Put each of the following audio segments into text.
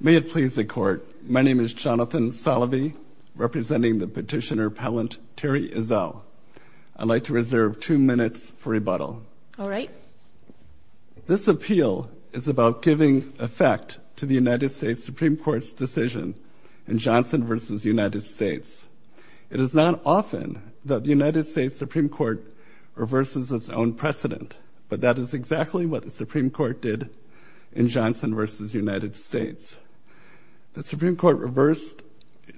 May it please the Court, my name is Jonathan Salovey, representing the Petitioner Appellant Terry Ezell. I'd like to reserve two minutes for rebuttal. This appeal is about giving effect to the United States Supreme Court's decision in Johnson v. United States. It is not often that the United States Supreme Court reverses its own precedent, but that is exactly what the Supreme Court did in Johnson v. United States. The Supreme Court reversed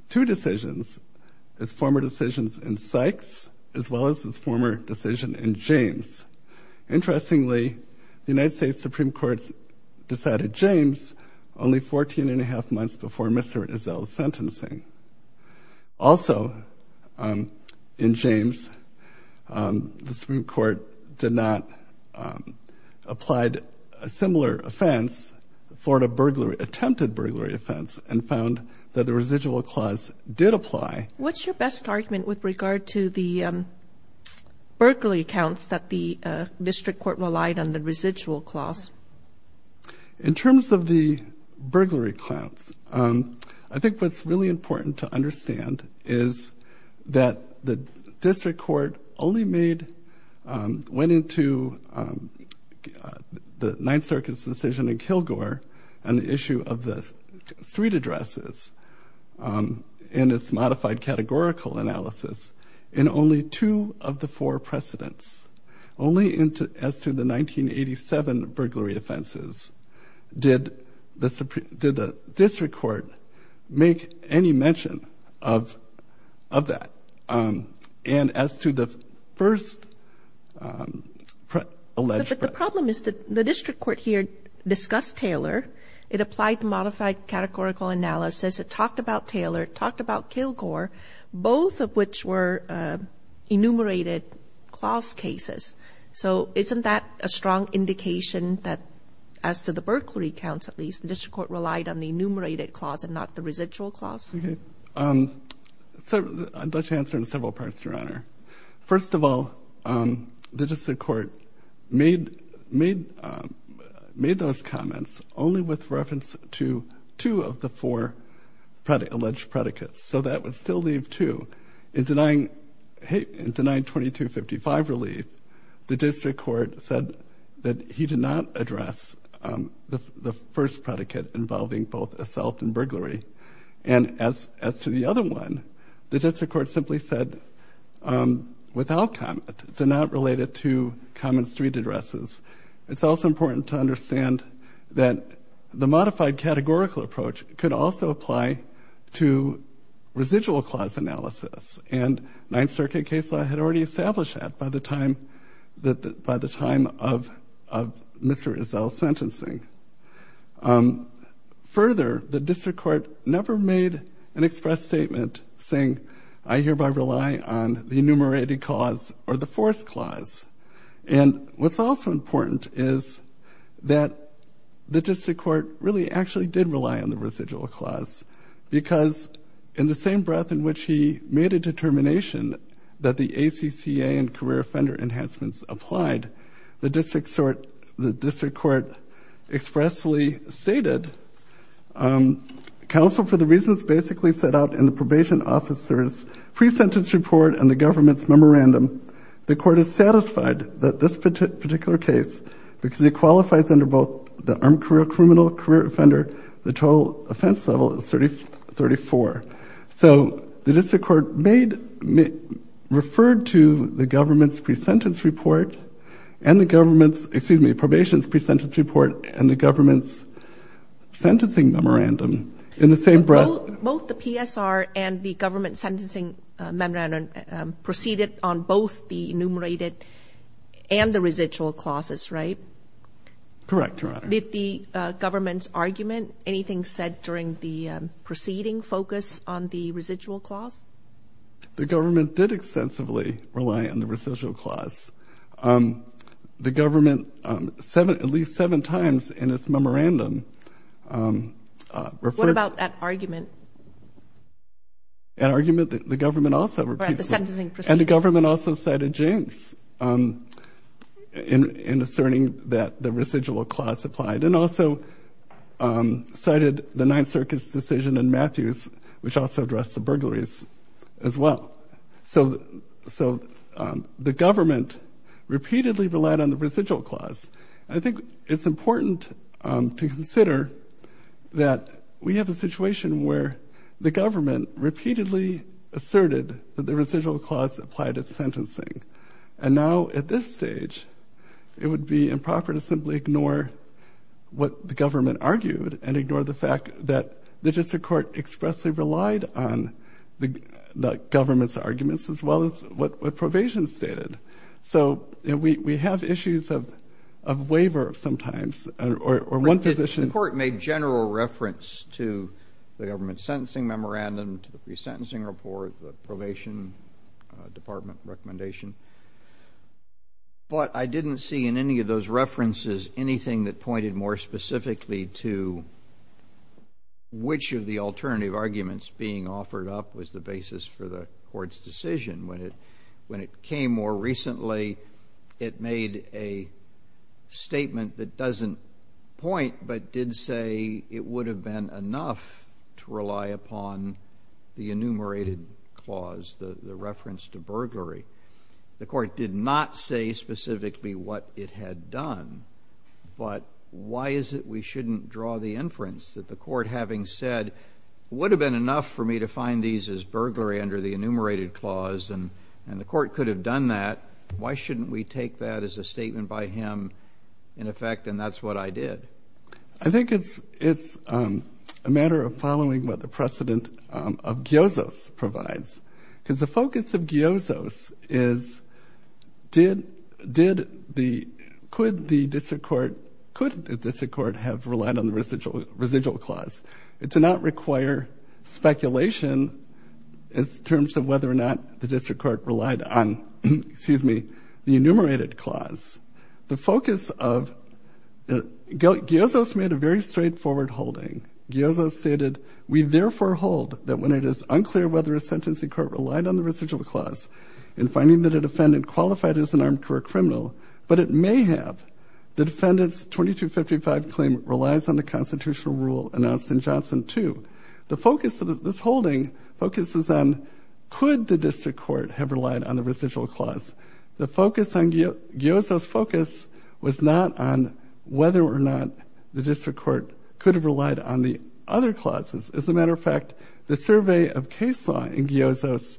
two decisions, its former decisions in Sykes as well as its former decision in James. Interestingly, the United States Supreme Court decided James only 14 and a half months before Mr. Ezell's sentencing. Also, in James, the Supreme Court did not apply a similar offense, attempted burglary offense, and found that the residual clause did apply. What's your best argument with regard to the burglary accounts that the district court relied on the residual clause? In terms of the burglary accounts, I think what's really important to understand is that the district court only went into the Ninth Circuit's decision in Kilgore on the issue of the street addresses in its modified categorical analysis in only two of the four precedents, only as to the 1987 burglary offenses. Did the district court make any mention of that? And as to the first alleged... But the problem is that the district court here discussed Taylor. It applied the modified categorical analysis. It talked about Taylor. It talked about Kilgore, both of which were enumerated clause cases. So isn't that a strong indication that, as to the burglary accounts at least, the district court relied on the enumerated clause and not the residual clause? I'd like to answer in several parts, Your Honor. First of all, the district court made those comments only with reference to two of the four alleged predicates. So that would still leave two. In denying 2255 relief, the district court said that he did not address the first predicate involving both assault and burglary. And as to the other one, the district court simply said, without comment, it's not related to common street addresses. It's also important to understand that the modified categorical approach could also apply to residual clause analysis. And Ninth Circuit case law had already established that by the time of Mr. Izzell's sentencing. Further, the district court never made an express statement saying, I hereby rely on the enumerated clause or the fourth clause. And what's also important is that the district court really actually did rely on the residual clause. Because in the same breath in which he made a determination that the ACCA and career offender enhancements applied, the district court expressly stated, counsel for the reasons basically set out in the probation officer's pre-sentence report and the government's memorandum, the court is satisfied that this total career offender, the total offense level is 34. So the district court made, referred to the government's pre-sentence report and the government's, excuse me, probation's pre-sentence report and the government's sentencing memorandum in the same breath. Both the PSR and the government's sentencing memorandum proceeded on both the enumerated Correct, Your Honor. Did the government's argument, anything said during the proceeding, focus on the residual clause? The government did extensively rely on the residual clause. The government, at least seven times in its memorandum, referred What about that argument? An argument that the government also repeated At the sentencing proceeding And the government also cited James in asserting that the residual clause applied and also cited the Ninth Circuit's decision in Matthews, which also addressed the burglaries as well. So the government repeatedly relied on the residual clause. I think it's important to consider that we have a situation where the government repeatedly asserted that the residual clause applied at sentencing. And now at this stage, it would be improper to simply ignore what the government argued and ignore the fact that the district court expressly relied on the government's arguments as well as what probation stated. So we have issues of waiver sometimes or one position The court made general reference to the government's sentencing memorandum, to the pre-sentencing report, the probation department recommendation. But I didn't see in any of those references anything that pointed more specifically to which of the alternative arguments being offered up was the basis for the court's decision. When it came more recently, it made a statement that doesn't point but did say it would have been enough to rely upon the enumerated clause, the reference to burglary. The court did not say specifically what it had done, but why is it we shouldn't draw the inference that the court, having said, would have been enough for me to find these as burglary under the enumerated clause and the court could have done that, why shouldn't we take that as a statement by him, in effect, and that's what I did? I think it's a matter of following what the precedent of Gyozo's provides. Because the focus of Gyozo's is, could the district court have relied on the residual clause? It did not require speculation in terms of whether or not the district court relied on the enumerated clause. The focus of Gyozo's made a very straightforward holding. Gyozo's stated, we therefore hold that when it is unclear whether a sentencing court relied on the residual clause in finding that a defendant qualified as an armed criminal, but it may have, the defendant's 2255 claim relies on the constitutional rule announced in Johnson 2. The focus of this holding focuses on, could the district court have relied on the residual clause? The focus on Gyozo's focus was not on whether or not the district court could have relied on the other clauses. As a matter of fact, the survey of case law in Gyozo's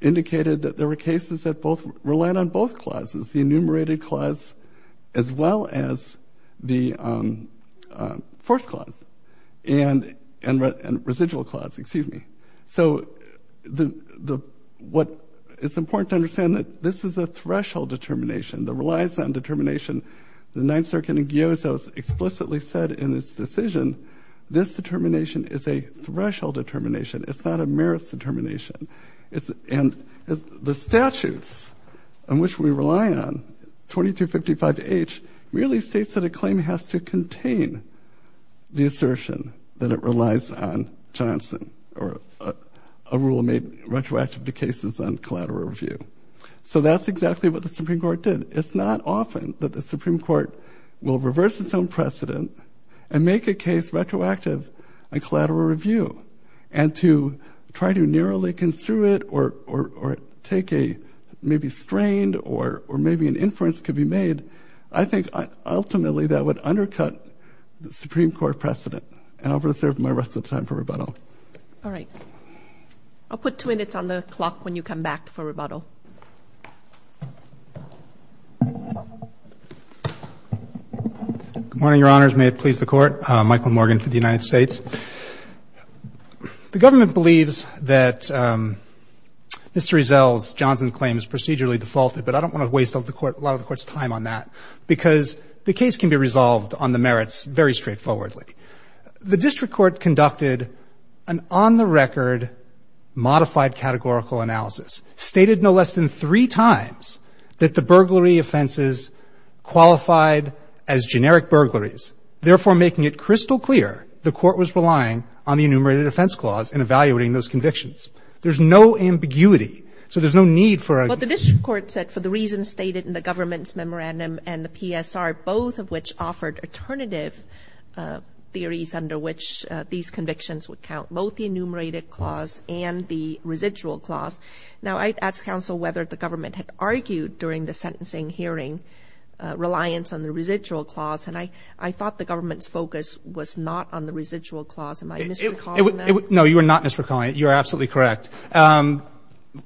indicated that there were cases that both relied on both clauses, the enumerated clause as well as the forced clause and residual clause, excuse me. So the, what, it's important to understand that this is a threshold determination that relies on determination. The Ninth Circuit in Gyozo's explicitly said in its decision, this determination is a threshold determination. It's not a merits determination. And the statute states on which we rely on 2255H really states that a claim has to contain the assertion that it relies on Johnson or a rule made retroactive to cases on collateral review. So that's exactly what the Supreme Court did. It's not often that the Supreme Court will reverse its own precedent and make a case retroactive on collateral review and to try to narrowly construe it or take a maybe strained or maybe an inference could be made. I think ultimately that would undercut the Supreme Court precedent and I'll reserve my rest of the time for rebuttal. All right. I'll put two minutes on the clock when you come back for rebuttal. Good morning, Your Honors. May it please the court. Michael Morgan for the United States. The government believes that Mr. Ezel's Johnson claim is procedurally defaulted, but I don't want to waste a lot of the court's time on that because the case can be resolved on the merits very straightforwardly. The district court conducted an on-the-record modified categorical analysis, stated no less than three times that the burglary offenses qualified as generic burglaries, therefore making it crystal clear the court was relying on the enumerated offense clause in evaluating those convictions. There's no ambiguity. So there's no need for a- But the district court said for the reasons stated in the government's memorandum and the PSR, both of which offered alternative theories under which these convictions would count, both the enumerated clause and the residual clause. Now, I'd ask counsel whether the government had argued during the sentencing hearing reliance on the residual clause, and I thought the government's focus was not on the residual clause. Am I misrecalling that? No, you are not misrecalling it. You are absolutely correct.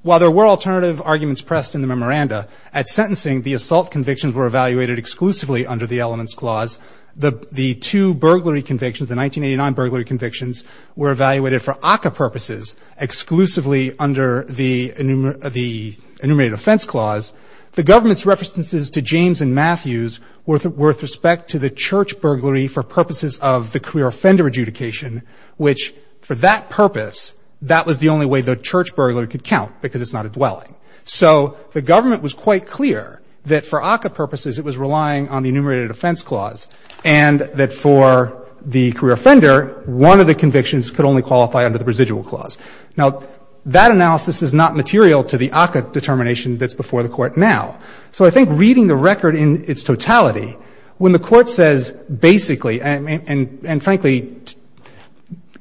While there were alternative arguments pressed in the memoranda, at sentencing, the assault convictions were evaluated exclusively under the elements clause. The two burglary convictions, the 1989 burglary convictions, were evaluated for ACCA purposes exclusively under the enumerated offense clause. The government's references to James and Matthews were with respect to the church burglary for purposes of the career offender adjudication, which for that purpose, that was the only way the church burglary could count, because it's not a dwelling. So the government was quite clear that for ACCA purposes it was relying on the enumerated could only qualify under the residual clause. Now, that analysis is not material to the ACCA determination that's before the Court now. So I think reading the record in its totality, when the Court says basically, and frankly, defense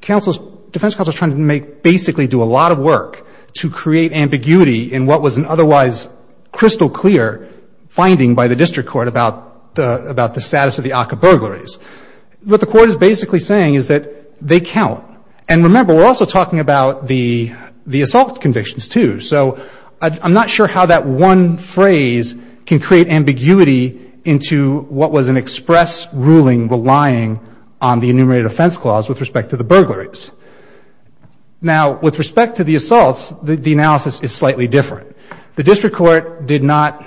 counsel is trying to make basically do a lot of work to create ambiguity in what was an otherwise crystal clear finding by the district court about the status of the ACCA burglaries. What the Court is basically saying is that they count. And remember, we're also talking about the assault convictions too. So I'm not sure how that one phrase can create ambiguity into what was an express ruling relying on the enumerated offense clause with respect to the burglaries. Now, with respect to the assaults, the analysis is slightly different. The district court did not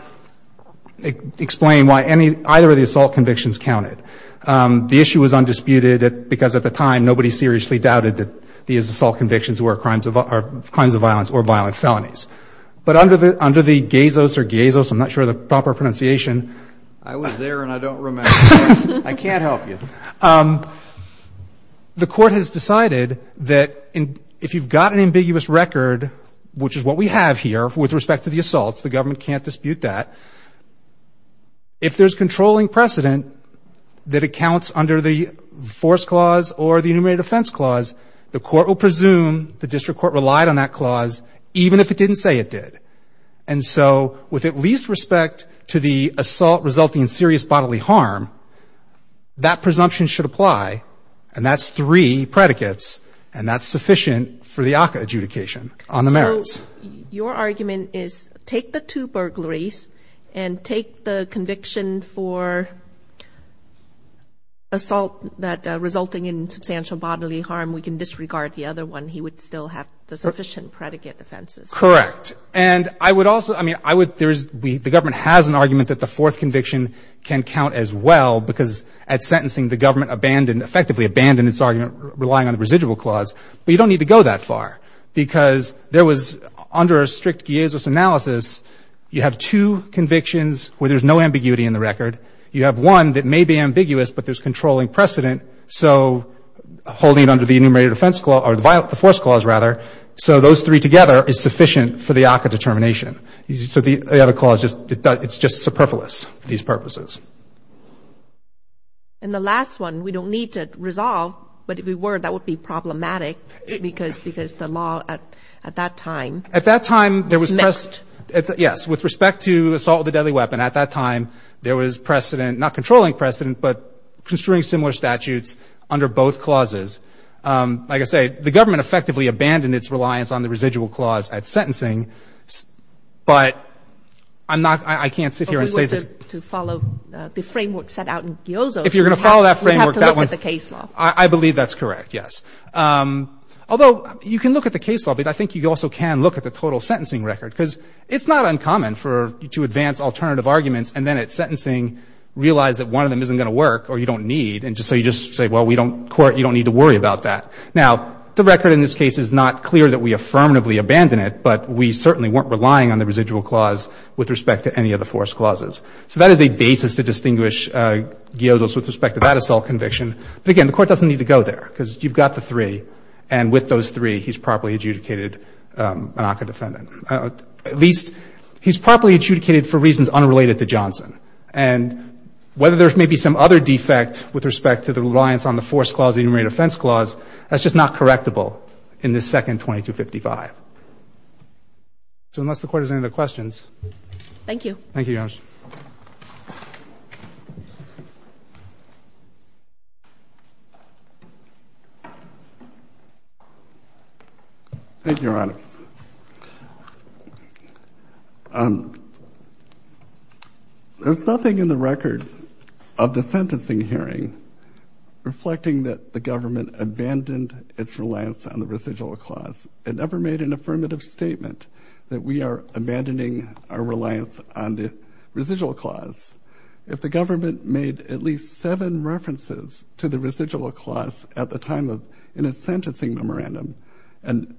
explain why either of the assault convictions counted. The issue was undisputed because at the time nobody seriously doubted that these assault convictions were crimes of violence or violent felonies. But under the gazos, I'm not sure the proper pronunciation. I was there and I don't remember. I can't help you. The Court has decided that if you've got an ambiguous record, which is what we have here with respect to the assaults, the government can't dispute that. If there's controlling precedent that accounts under the force clause or the enumerated offense clause, the Court will presume the district court relied on that clause even if it didn't say it did. And so with at least respect to the assault resulting in serious bodily harm, that presumption should apply. And that's three predicates. And that's sufficient for the ACCA adjudication on the merits. Your argument is take the two burglaries and take the conviction for assault that resulting in substantial bodily harm. We can disregard the other one. He would still have the sufficient predicate offenses. Correct. And I would also, I mean, I would, there's, the government has an argument that the fourth conviction can count as well because at sentencing the government abandoned, effectively abandoned its argument relying on the residual clause. But you don't need to go that far because there was under a strict Giesis analysis, you have two convictions where there's no ambiguity in the record. You have one that may be ambiguous, but there's controlling precedent. So holding it under the enumerated offense clause or the force clause rather. So those three together is sufficient for the ACCA determination. So the other clause just, it's just superfluous for these purposes. And the last one we don't need to resolve, but if we were, that would be problematic because, because the law at, at that time. At that time there was, yes, with respect to assault with a deadly weapon, at that time there was precedent, not controlling precedent, but construing similar statutes under both clauses. Like I say, the government effectively abandoned its reliance on the residual clause at sentencing. But I'm not, I can't sit here and say. If we were to follow the framework set out in Giozo. If you're going to follow that framework. We have to look at the case law. I believe that's correct. Yes. Although you can look at the case law, but I think you also can look at the total sentencing record because it's not uncommon for, to advance alternative arguments and then at sentencing realize that one of them isn't going to work or you don't need. And just so you just say, well, we don't court, you don't need to worry about that. Now the record in this case is not clear that we affirmatively abandon it, but we certainly weren't relying on the residual clause with respect to any of the force clauses. So that is a basis to distinguish Giozo with respect to that assault conviction. But again, the court doesn't need to go there because you've got the three. And with those three, he's properly adjudicated an ACA defendant. At least he's properly adjudicated for reasons unrelated to Johnson. And whether there's maybe some other defect with respect to the reliance on the force clause, the defense clause, that's just not correctable in the second 2255. So unless the court has any other questions. Thank you. Thank you. Thank you, Your Honor. There's nothing in the record of the sentencing hearing reflecting that the government abandoned its reliance on the residual clause. It never made an affirmative statement that we are abandoning our reliance on the residual clause. The residual clause at the time of in a sentencing memorandum and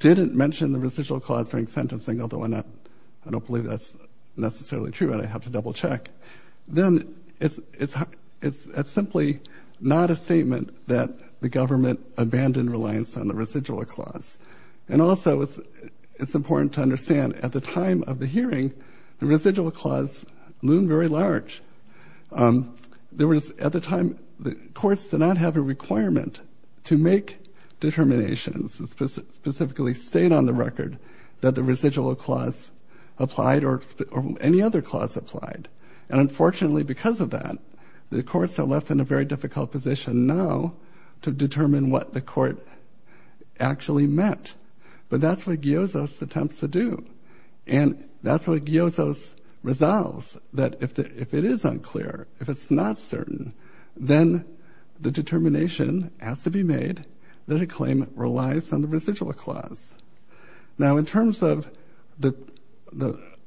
didn't mention the residual clause during sentencing, although I don't believe that's necessarily true. And I have to double check. Then it's simply not a statement that the government abandoned reliance on the residual clause. And also, it's important to understand at the time of the hearing, the residual clause loomed very large. There was at the time the courts did not have a requirement to make determinations specifically state on the record that the residual clause applied or any other clause applied. And unfortunately, because of that, the courts are left in a very difficult position now to determine what the court actually met. But that's what Giozo's attempts to do. And that's what Giozo's resolves, that if it is unclear, if it's not certain, then the determination has to be made that a claim relies on the residual clause. Now, in terms of the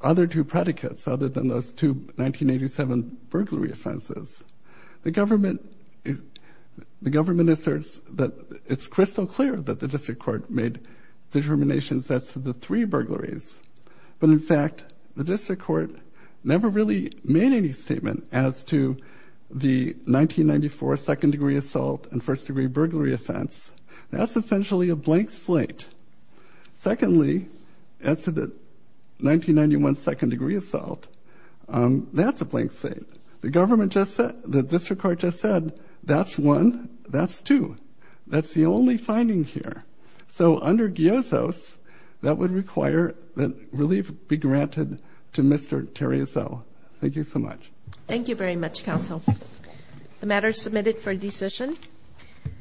other two predicates, other than those two 1987 burglary offenses, the government, the government asserts that it's crystal clear that the district court made determinations as to the three burglaries. But in fact, the district court never really made any statement as to the 1994 second degree assault and first degree burglary offense. That's essentially a blank slate. Secondly, as to the 1991 second degree assault, that's a blank slate. The government just said, the district court just said, that's one, that's two. That's the only finding here. So under Giozo's, that would require that relief be granted to Mr. Terrizo. Thank you so much. Thank you very much, counsel. The matter is submitted for decision.